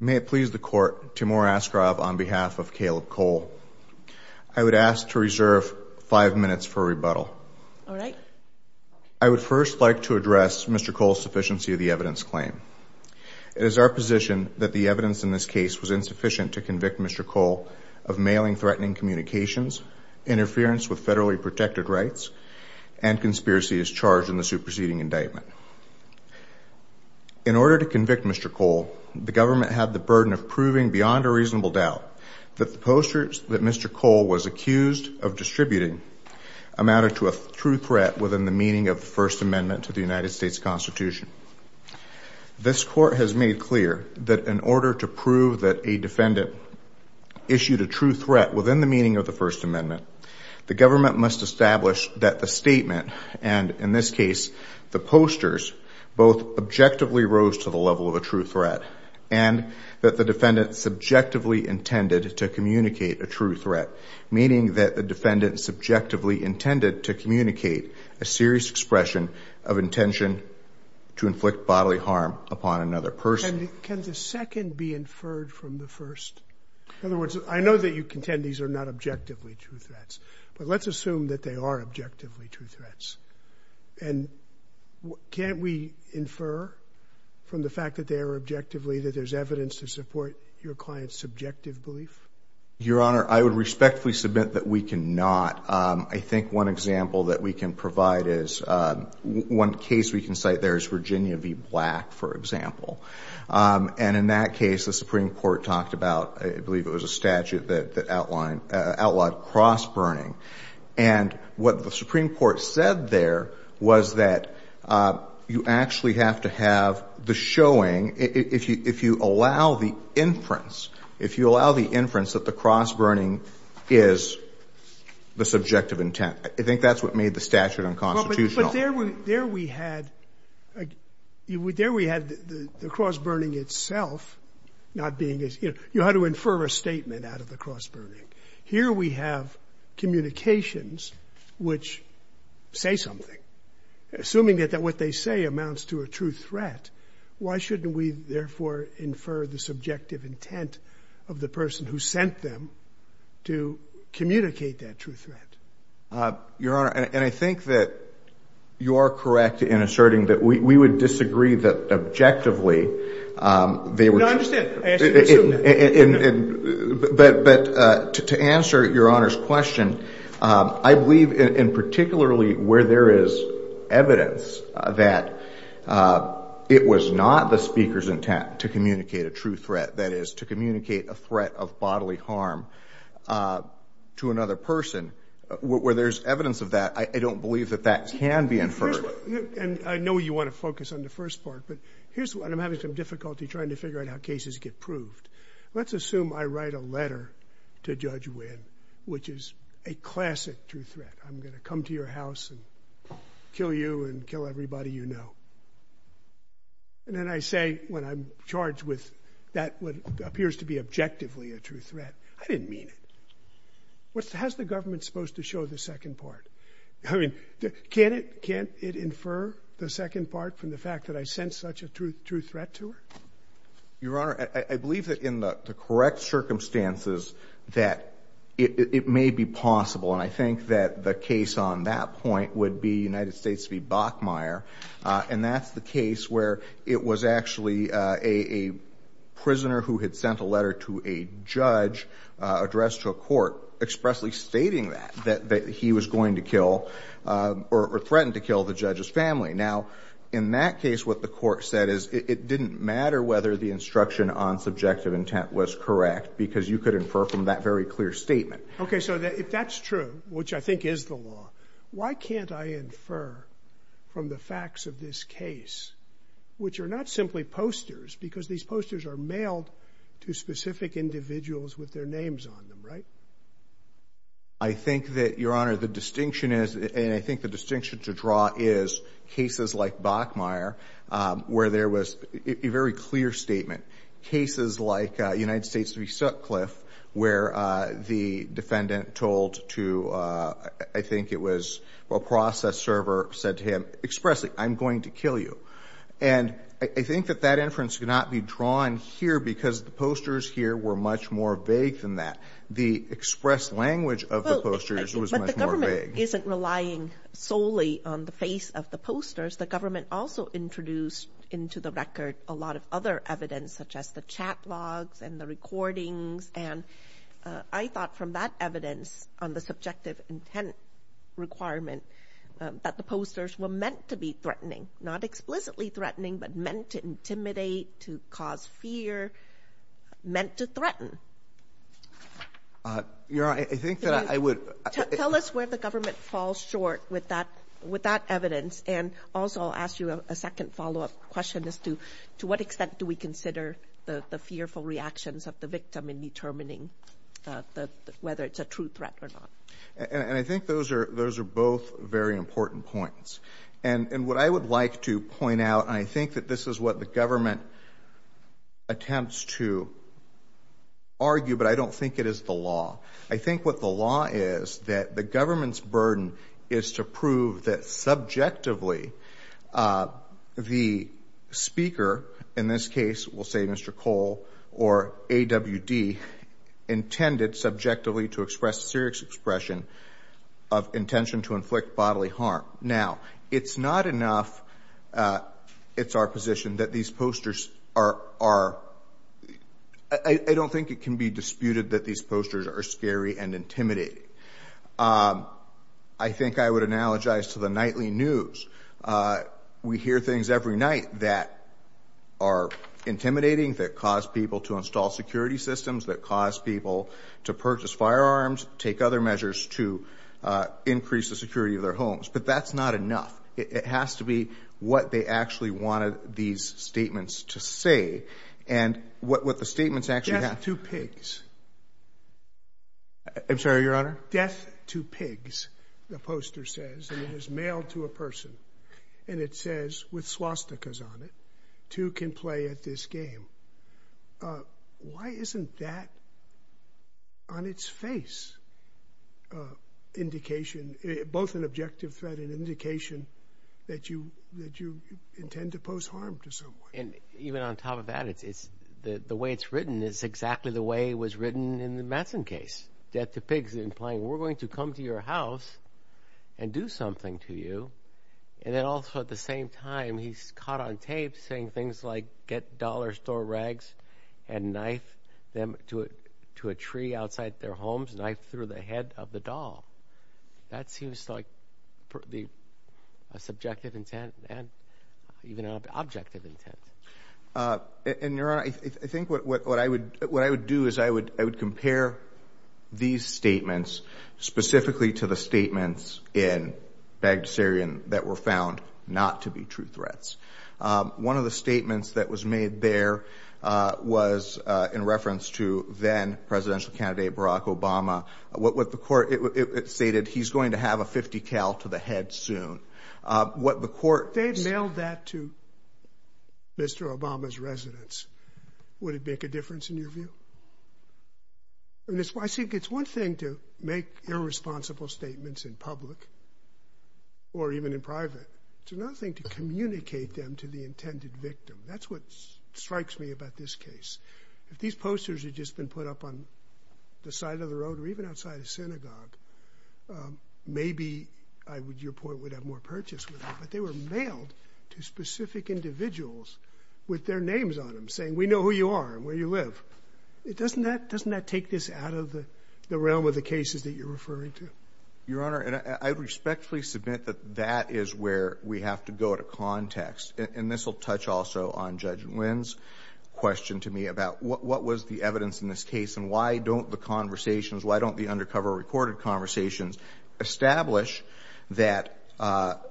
May it please the court, Timur Askrov on behalf of Kaleb Cole. I would ask to reserve five minutes for rebuttal. All right. I would first like to address Mr. Cole's sufficiency of the evidence claim. It is our position that the evidence in this case was insufficient to convict Mr. Cole of mailing threatening communications, interference with federally protected rights, and conspiracy as charged in the superseding indictment. In order to convict Mr. Cole, the government had the burden of proving beyond a reasonable doubt that the posters that Mr. Cole was accused of distributing amounted to a true threat within the meaning of the First Amendment to the United States Constitution. This court has made clear that in order to prove that a defendant issued a true threat within the meaning of the First Amendment, the government must establish that the statement, and in this case the posters, both objectively rose to the level of a true threat and that the defendant subjectively intended to communicate a true threat, meaning that the defendant subjectively intended to communicate a serious expression of intention to inflict bodily harm upon another person. And can the second be inferred from the first? In other words, I know that you contend these are not objectively true threats, but let's assume that they are objectively true threats. And can't we infer from the fact that they are objectively that there's evidence to support your client's subjective belief? Your Honor, I would respectfully submit that we cannot. I think one example that we can provide is one case we can cite there is Virginia v. Black, for example. And in that case, the Supreme Court talked about, I believe it was a statute that outlined, outlawed cross-burning. And what the Supreme Court said there was that you actually have to have the showing, if you allow the inference, if you allow the inference that the cross-burning is the subjective intent. I think that's what made the statute unconstitutional. But there we had the cross-burning itself not being as you know, you had to infer a statement out of the cross-burning. Here we have communications which say something, assuming that what they say amounts to a true threat. Why shouldn't we, therefore, infer the subjective intent of the person who sent them to communicate that true threat? Your Honor, and I think that you are correct in asserting that we would disagree that objectively they were true. No, I understand. I assume that. But to answer Your Honor's question, I believe in particularly where there is evidence that it was not the speaker's intent to communicate a true threat. That is, to communicate a threat of bodily harm to another person. Where there's evidence of that, I don't believe that that can be inferred. I know you want to focus on the first part, but I'm having some difficulty trying to figure out how cases get proved. Let's assume I write a letter to Judge Wynn, which is a classic true threat. I'm going to come to your house and kill you and kill everybody you know. And then I say, when I'm charged with what appears to be objectively a true threat, I didn't mean it. How's the government supposed to show the second part? I mean, can't it infer the second part from the fact that I sent such a true threat to her? Your Honor, I believe that in the correct circumstances that it may be possible, and I think that the case on that point would be United States v. Bachmeier, and that's the case where it was actually a prisoner who had sent a letter to a judge addressed to a court expressly stating that he was going to kill or threatened to kill the judge's family. Now, in that case, what the court said is it didn't matter whether the instruction on subjective intent was correct because you could infer from that very clear statement. Okay, so if that's true, which I think is the law, why can't I infer from the facts of this case, which are not simply posters because these posters are mailed to specific individuals with their names on them, right? I think that, Your Honor, the distinction is, and I think the distinction to draw is, cases like Bachmeier where there was a very clear statement, cases like United States v. Sutcliffe where the defendant told to, I think it was, a process server said to him expressly, I'm going to kill you. And I think that that inference could not be drawn here because the posters here were much more vague than that. The expressed language of the posters was much more vague. But the government isn't relying solely on the face of the posters. The government also introduced into the record a lot of other evidence, such as the chat logs and the recordings, and I thought from that evidence on the subjective intent requirement that the posters were meant to be threatening, not explicitly threatening, but meant to intimidate, to cause fear, meant to threaten. Your Honor, I think that I would – Tell us where the government falls short with that evidence. And also I'll ask you a second follow-up question as to, to what extent do we consider the fearful reactions of the victim in determining whether it's a true threat or not? And I think those are both very important points. And what I would like to point out, and I think that this is what the government attempts to argue, but I don't think it is the law. I think what the law is that the government's burden is to prove that subjectively the speaker, in this case, we'll say Mr. Cole or AWD, intended subjectively to express a serious expression of intention to inflict bodily harm. Now, it's not enough it's our position that these posters are – I don't think it can be disputed that these posters are scary and intimidating. I think I would analogize to the nightly news. We hear things every night that are intimidating, that cause people to install security systems, that cause people to purchase firearms, take other measures to increase the security of their homes. But that's not enough. It has to be what they actually wanted these statements to say and what the statements actually have. Death to pigs. I'm sorry, Your Honor? Death to pigs, the poster says, and it is mailed to a person. And it says, with swastikas on it, two can play at this game. Why isn't that, on its face, indication, both an objective threat and indication that you intend to pose harm to someone? And even on top of that, the way it's written is exactly the way it was written in the Madsen case. Death to pigs, implying we're going to come to your house and do something to you. And then also, at the same time, he's caught on tape saying things like get dollar store rags and knife them to a tree outside their homes, knife through the head of the doll. That seems like a subjective intent and even an objective intent. And, Your Honor, I think what I would do is I would compare these statements, specifically to the statements in Bagdasarian that were found not to be true threats. One of the statements that was made there was in reference to then-presidential candidate Barack Obama, what the court stated, he's going to have a .50 cal to the head soon. If they had mailed that to Mr. Obama's residence, would it make a difference in your view? I think it's one thing to make irresponsible statements in public or even in private. It's another thing to communicate them to the intended victim. That's what strikes me about this case. If these posters had just been put up on the side of the road or even outside a synagogue, maybe your point would have more purchase with that. But they were mailed to specific individuals with their names on them saying, we know who you are and where you live. Doesn't that take this out of the realm of the cases that you're referring to? Your Honor, I respectfully submit that that is where we have to go to context. And this will touch also on Judge Nguyen's question to me about what was the evidence in this case and why don't the conversations, why don't the undercover recorded conversations, establish that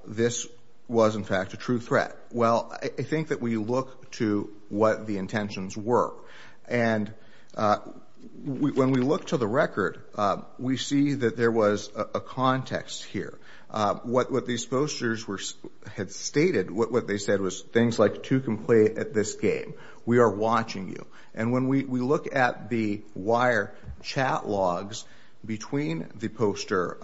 this was, in fact, a true threat. Well, I think that we look to what the intentions were. And when we look to the record, we see that there was a context here. What these posters had stated, what they said was things like two can play at this game. We are watching you. And when we look at the wire chat logs between the poster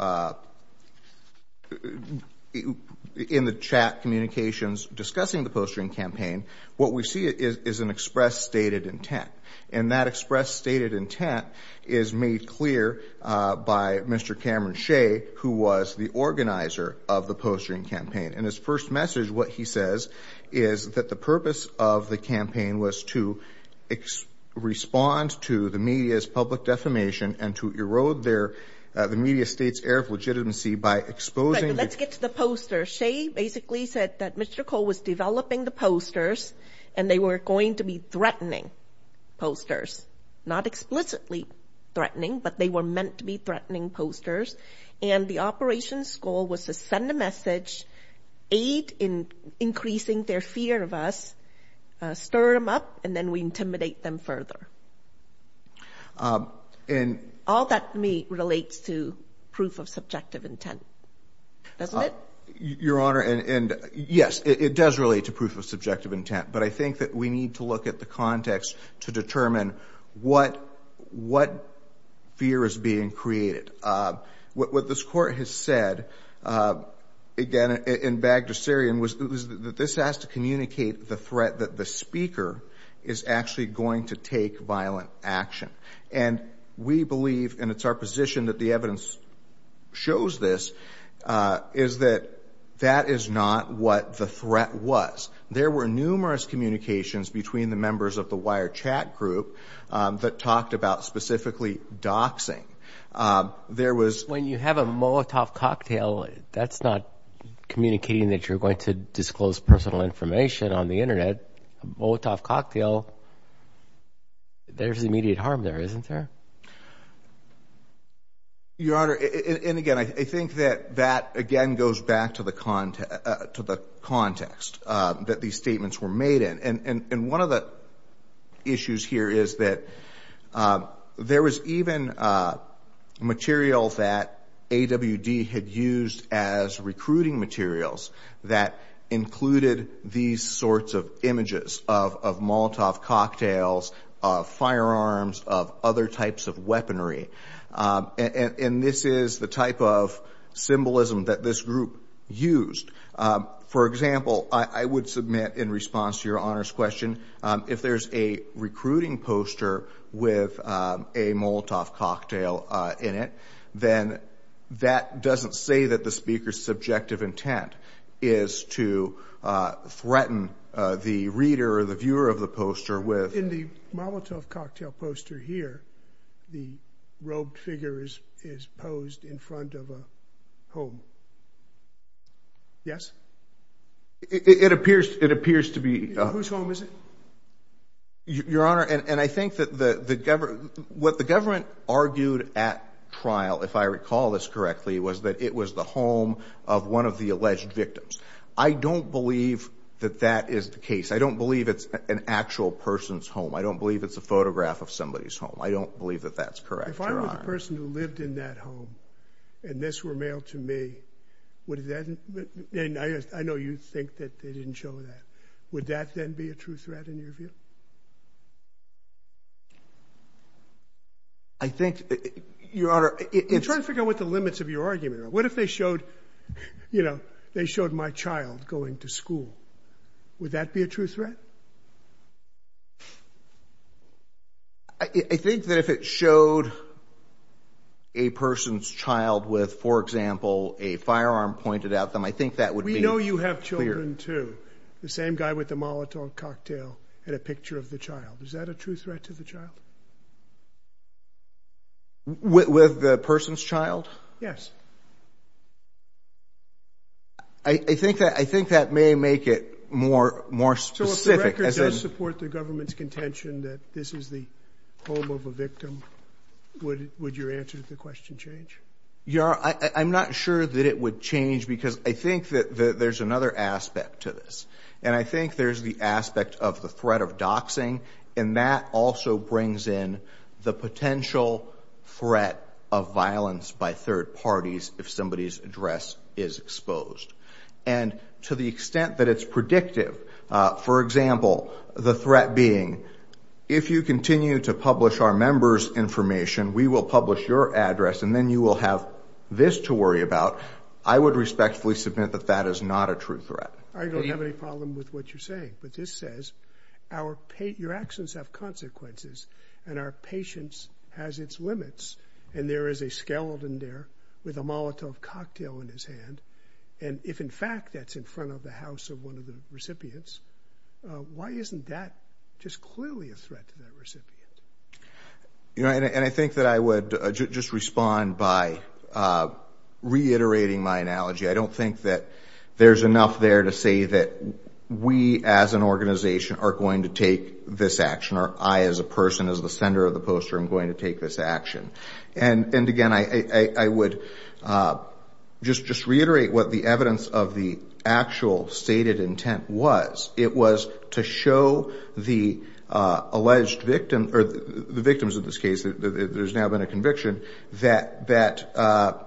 in the chat communications discussing the posturing campaign, what we see is an express stated intent. And that express stated intent is made clear by Mr. Cameron Shea, who was the organizer of the posturing campaign. And his first message, what he says, is that the purpose of the campaign was to respond to the media's public defamation and to erode the media state's air of legitimacy by exposing the- Let's get to the posters. Shea basically said that Mr. Cole was developing the posters and they were going to be threatening posters. Not explicitly threatening, but they were meant to be threatening posters. And the operation's goal was to send a message, aid in increasing their fear of us, stir them up, and then we intimidate them further. And- All that to me relates to proof of subjective intent. Doesn't it? Your Honor, and yes, it does relate to proof of subjective intent. But I think that we need to look at the context to determine what fear is being created. What this court has said, again, in Bagdasarian, was that this has to communicate the threat that the speaker is actually going to take violent action. And we believe, and it's our position that the evidence shows this, is that that is not what the threat was. There were numerous communications between the members of the wire chat group that talked about specifically doxing. There was- When you have a Molotov cocktail, that's not communicating that you're going to disclose personal information on the Internet. A Molotov cocktail, there's immediate harm there, isn't there? Your Honor, and again, I think that that, again, goes back to the context that these statements were made in. And one of the issues here is that there was even material that AWD had used as recruiting materials that included these sorts of images of Molotov cocktails, of firearms, of other types of weaponry. And this is the type of symbolism that this group used. For example, I would submit in response to Your Honor's question, if there's a recruiting poster with a Molotov cocktail in it, then that doesn't say that the speaker's subjective intent is to threaten the reader or the viewer of the poster with- Yes? It appears to be- Whose home is it? Your Honor, and I think that what the government argued at trial, if I recall this correctly, was that it was the home of one of the alleged victims. I don't believe that that is the case. I don't believe it's an actual person's home. I don't believe it's a photograph of somebody's home. I don't believe that that's correct, Your Honor. If I were the person who lived in that home and this were mailed to me, I know you think that they didn't show that. Would that then be a true threat in your view? I think, Your Honor- I'm trying to figure out what the limits of your argument are. What if they showed my child going to school? Would that be a true threat? I think that if it showed a person's child with, for example, a firearm pointed at them, I think that would be- We know you have children, too. The same guy with the Molotov cocktail had a picture of the child. Is that a true threat to the child? With the person's child? Yes. I think that may make it more specific. So if the record does support the government's contention that this is the home of a victim, would your answer to the question change? Your Honor, I'm not sure that it would change because I think that there's another aspect to this. And I think there's the aspect of the threat of doxing, and that also brings in the potential threat of violence by third parties if somebody's address is exposed. And to the extent that it's predictive, for example, the threat being, if you continue to publish our members' information, we will publish your address, and then you will have this to worry about, I would respectfully submit that that is not a true threat. I don't have any problem with what you're saying. But this says your actions have consequences, and our patience has its limits, and there is a skeleton there with a Molotov cocktail in his hand. And if, in fact, that's in front of the house of one of the recipients, why isn't that just clearly a threat to that recipient? And I think that I would just respond by reiterating my analogy. I don't think that there's enough there to say that we, as an organization, are going to take this action, or I, as a person, as the sender of the poster, am going to take this action. And, again, I would just reiterate what the evidence of the actual stated intent was. It was to show the alleged victim, or the victims in this case, there's now been a conviction, that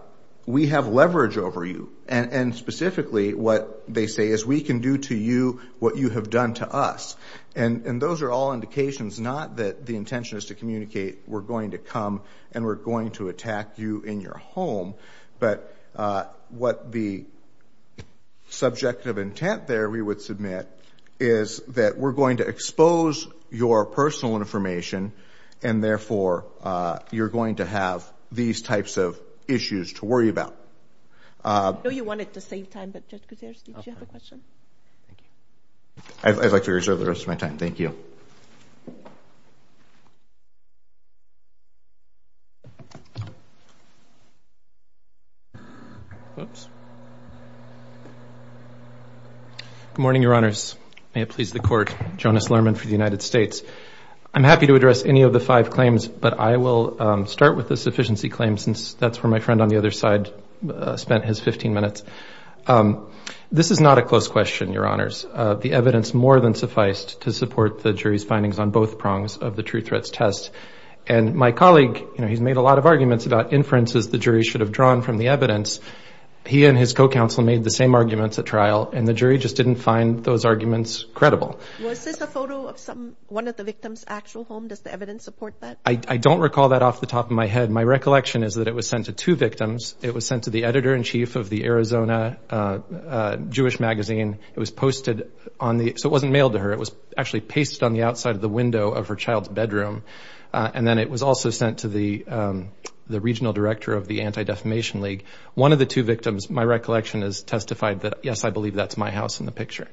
we have leverage over you. And, specifically, what they say is we can do to you what you have done to us. And those are all indications, not that the intention is to communicate we're going to come and we're going to attack you in your home, but what the subjective intent there we would submit is that we're going to expose your personal information and, therefore, you're going to have these types of issues to worry about. I know you wanted to save time, but Judge Gutierrez, did you have a question? I'd like to reserve the rest of my time. Thank you. Good morning, Your Honors. May it please the Court. Jonas Lerman for the United States. I'm happy to address any of the five claims, but I will start with the sufficiency claim, since that's where my friend on the other side spent his 15 minutes. This is not a close question, Your Honors. The evidence more than sufficed to support the jury's findings on both prongs of the true threats test. And my colleague, he's made a lot of arguments about inferences the jury should have drawn from the evidence. He and his co-counsel made the same arguments at trial, and the jury just didn't find those arguments credible. Was this a photo of one of the victims' actual home? Does the evidence support that? I don't recall that off the top of my head. My recollection is that it was sent to two victims. It was sent to the editor-in-chief of the Arizona Jewish magazine. It was posted on the – so it wasn't mailed to her. It was actually pasted on the outside of the window of her child's bedroom. And then it was also sent to the regional director of the Anti-Defamation League. One of the two victims, my recollection has testified that, yes, I believe that's my house in the picture.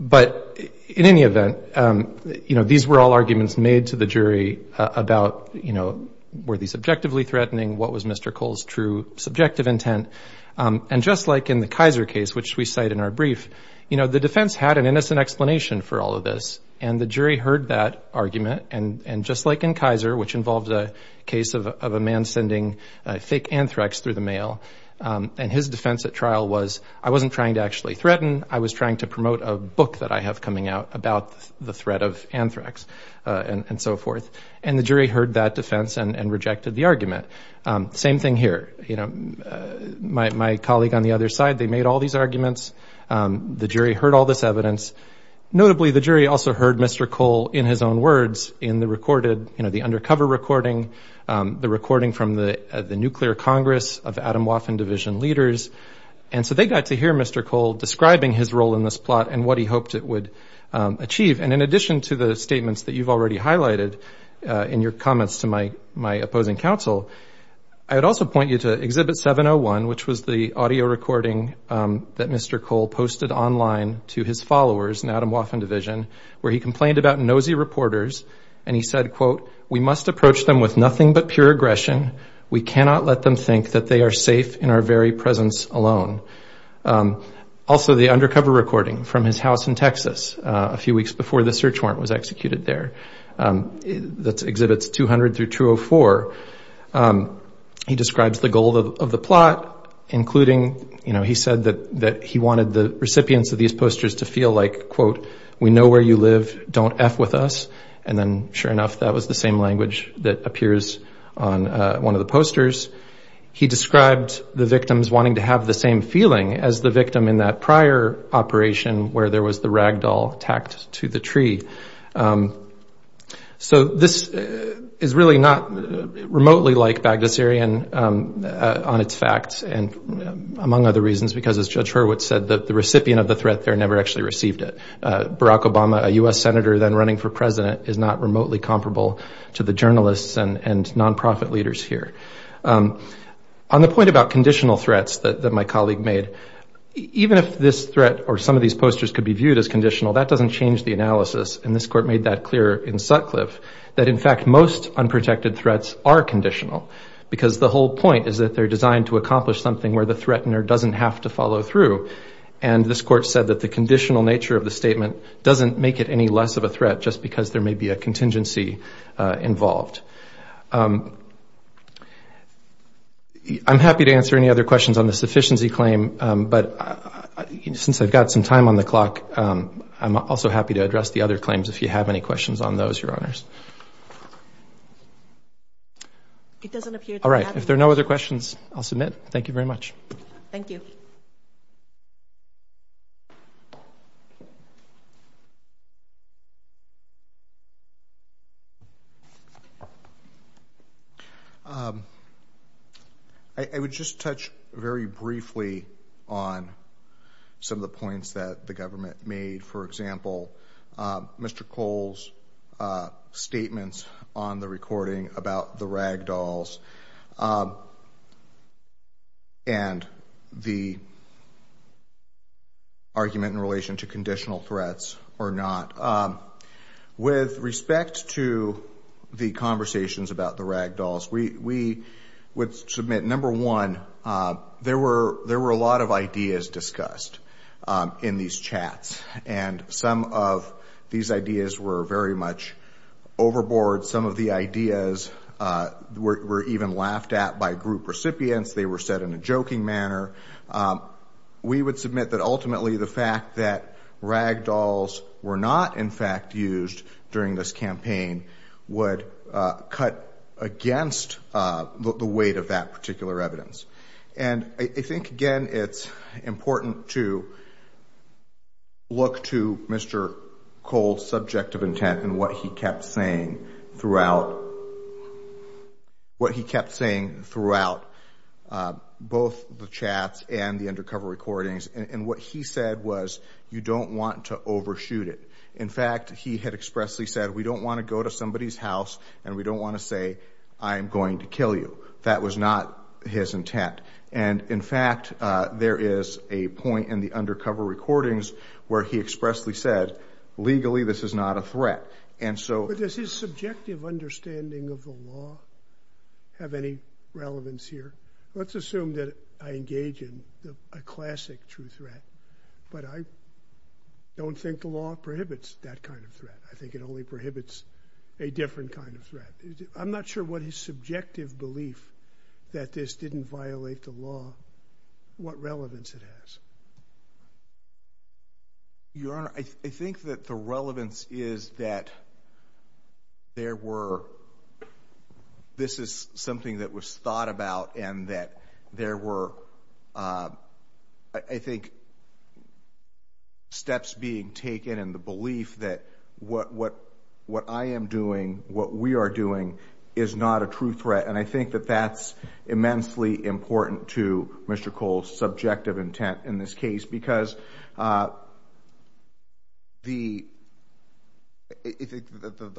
But in any event, you know, these were all arguments made to the jury about, you know, were they subjectively threatening? What was Mr. Cole's true subjective intent? And just like in the Kaiser case, which we cite in our brief, you know, the defense had an innocent explanation for all of this, and the jury heard that argument. And just like in Kaiser, which involved a case of a man sending fake anthrax through the mail, and his defense at trial was, I wasn't trying to actually threaten. I was trying to promote a book that I have coming out about the threat of anthrax and so forth. And the jury heard that defense and rejected the argument. Same thing here. You know, my colleague on the other side, they made all these arguments. The jury heard all this evidence. Notably, the jury also heard Mr. Cole in his own words in the recorded, you know, the undercover recording, the recording from the Nuclear Congress of Atomwaffen Division leaders. And so they got to hear Mr. Cole describing his role in this plot and what he hoped it would achieve. And in addition to the statements that you've already highlighted in your comments to my opposing counsel, I would also point you to Exhibit 701, which was the audio recording that Mr. Cole posted online to his followers in Atomwaffen Division, where he complained about nosy reporters. And he said, quote, we must approach them with nothing but pure aggression. We cannot let them think that they are safe in our very presence alone. Also, the undercover recording from his house in Texas, a few weeks before the search warrant was executed there. That's Exhibits 200 through 204. He describes the goal of the plot, including, you know, he said that he wanted the recipients of these posters to feel like, quote, we know where you live, don't F with us. And then sure enough, that was the same language that appears on one of the posters. He described the victims wanting to have the same feeling as the victim in that prior operation where there was the ragdoll tacked to the tree. So this is really not remotely like Bagdasarian on its facts. And among other reasons, because as Judge Hurwitz said, the recipient of the threat there never actually received it. Barack Obama, a U.S. senator then running for president, is not remotely comparable to the journalists and nonprofit leaders here. On the point about conditional threats that my colleague made, even if this threat or some of these posters could be viewed as conditional, that doesn't change the analysis. And this court made that clear in Sutcliffe, that in fact, most unprotected threats are conditional. Because the whole point is that they're designed to accomplish something where the threatener doesn't have to follow through. And this court said that the conditional nature of the statement doesn't make it any less of a threat just because there may be a contingency involved. I'm happy to answer any other questions on the sufficiency claim. But since I've got some time on the clock, I'm also happy to address the other claims if you have any questions on those, Your Honors. All right. If there are no other questions, I'll submit. Thank you very much. Thank you. I would just touch very briefly on some of the points that the government made. For example, Mr. Cole's statements on the recording about the rag dolls and the argument in relation to conditional threats or not. With respect to the conversations about the rag dolls, we would submit, number one, there were a lot of ideas discussed in these chats. And some of these ideas were very much overboard. Some of the ideas were even laughed at by group recipients. They were said in a joking manner. We would submit that ultimately the fact that rag dolls were not, in fact, used during this campaign would cut against the weight of that particular evidence. And I think, again, it's important to look to Mr. Cole's subjective intent and what he kept saying throughout both the chats and the undercover recordings. And what he said was, you don't want to overshoot it. In fact, he had expressly said, we don't want to go to somebody's house and we don't want to say, I'm going to kill you. That was not his intent. And, in fact, there is a point in the undercover recordings where he expressly said, legally, this is not a threat. But does his subjective understanding of the law have any relevance here? Let's assume that I engage in a classic true threat, but I don't think the law prohibits that kind of threat. I think it only prohibits a different kind of threat. I'm not sure what his subjective belief that this didn't violate the law, what relevance it has. Your Honor, I think that the relevance is that there were, this is something that was thought about and that there were, I think, steps being taken in the belief that what I am doing, what we are doing, is not a true threat. And I think that that's immensely important to Mr. Cole's subjective intent in this case, because the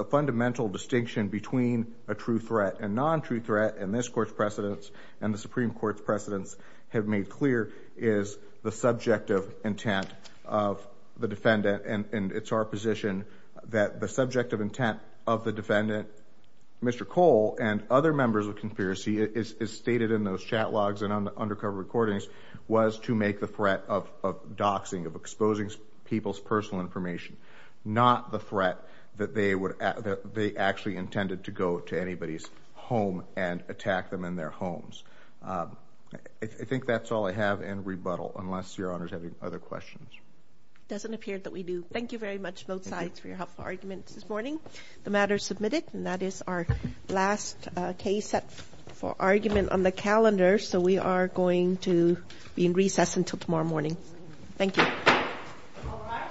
fundamental distinction between a true threat and a non-true threat, and this Court's precedents and the Supreme Court's precedents have made clear, is the subjective intent of the defendant. And it's our position that the subjective intent of the defendant, Mr. Cole and other members of conspiracy, as stated in those chat logs and undercover recordings, was to make the threat of doxing, of exposing people's personal information, not the threat that they actually intended to go to anybody's home and attack them in their homes. I think that's all I have in rebuttal, unless Your Honor is having other questions. It doesn't appear that we do. Thank you very much, both sides, for your helpful arguments this morning. The matter is submitted, and that is our last case set for argument on the calendar. So we are going to be in recess until tomorrow morning. Thank you. All rise. Thank you. The Court stands in recess until tomorrow. Thank you.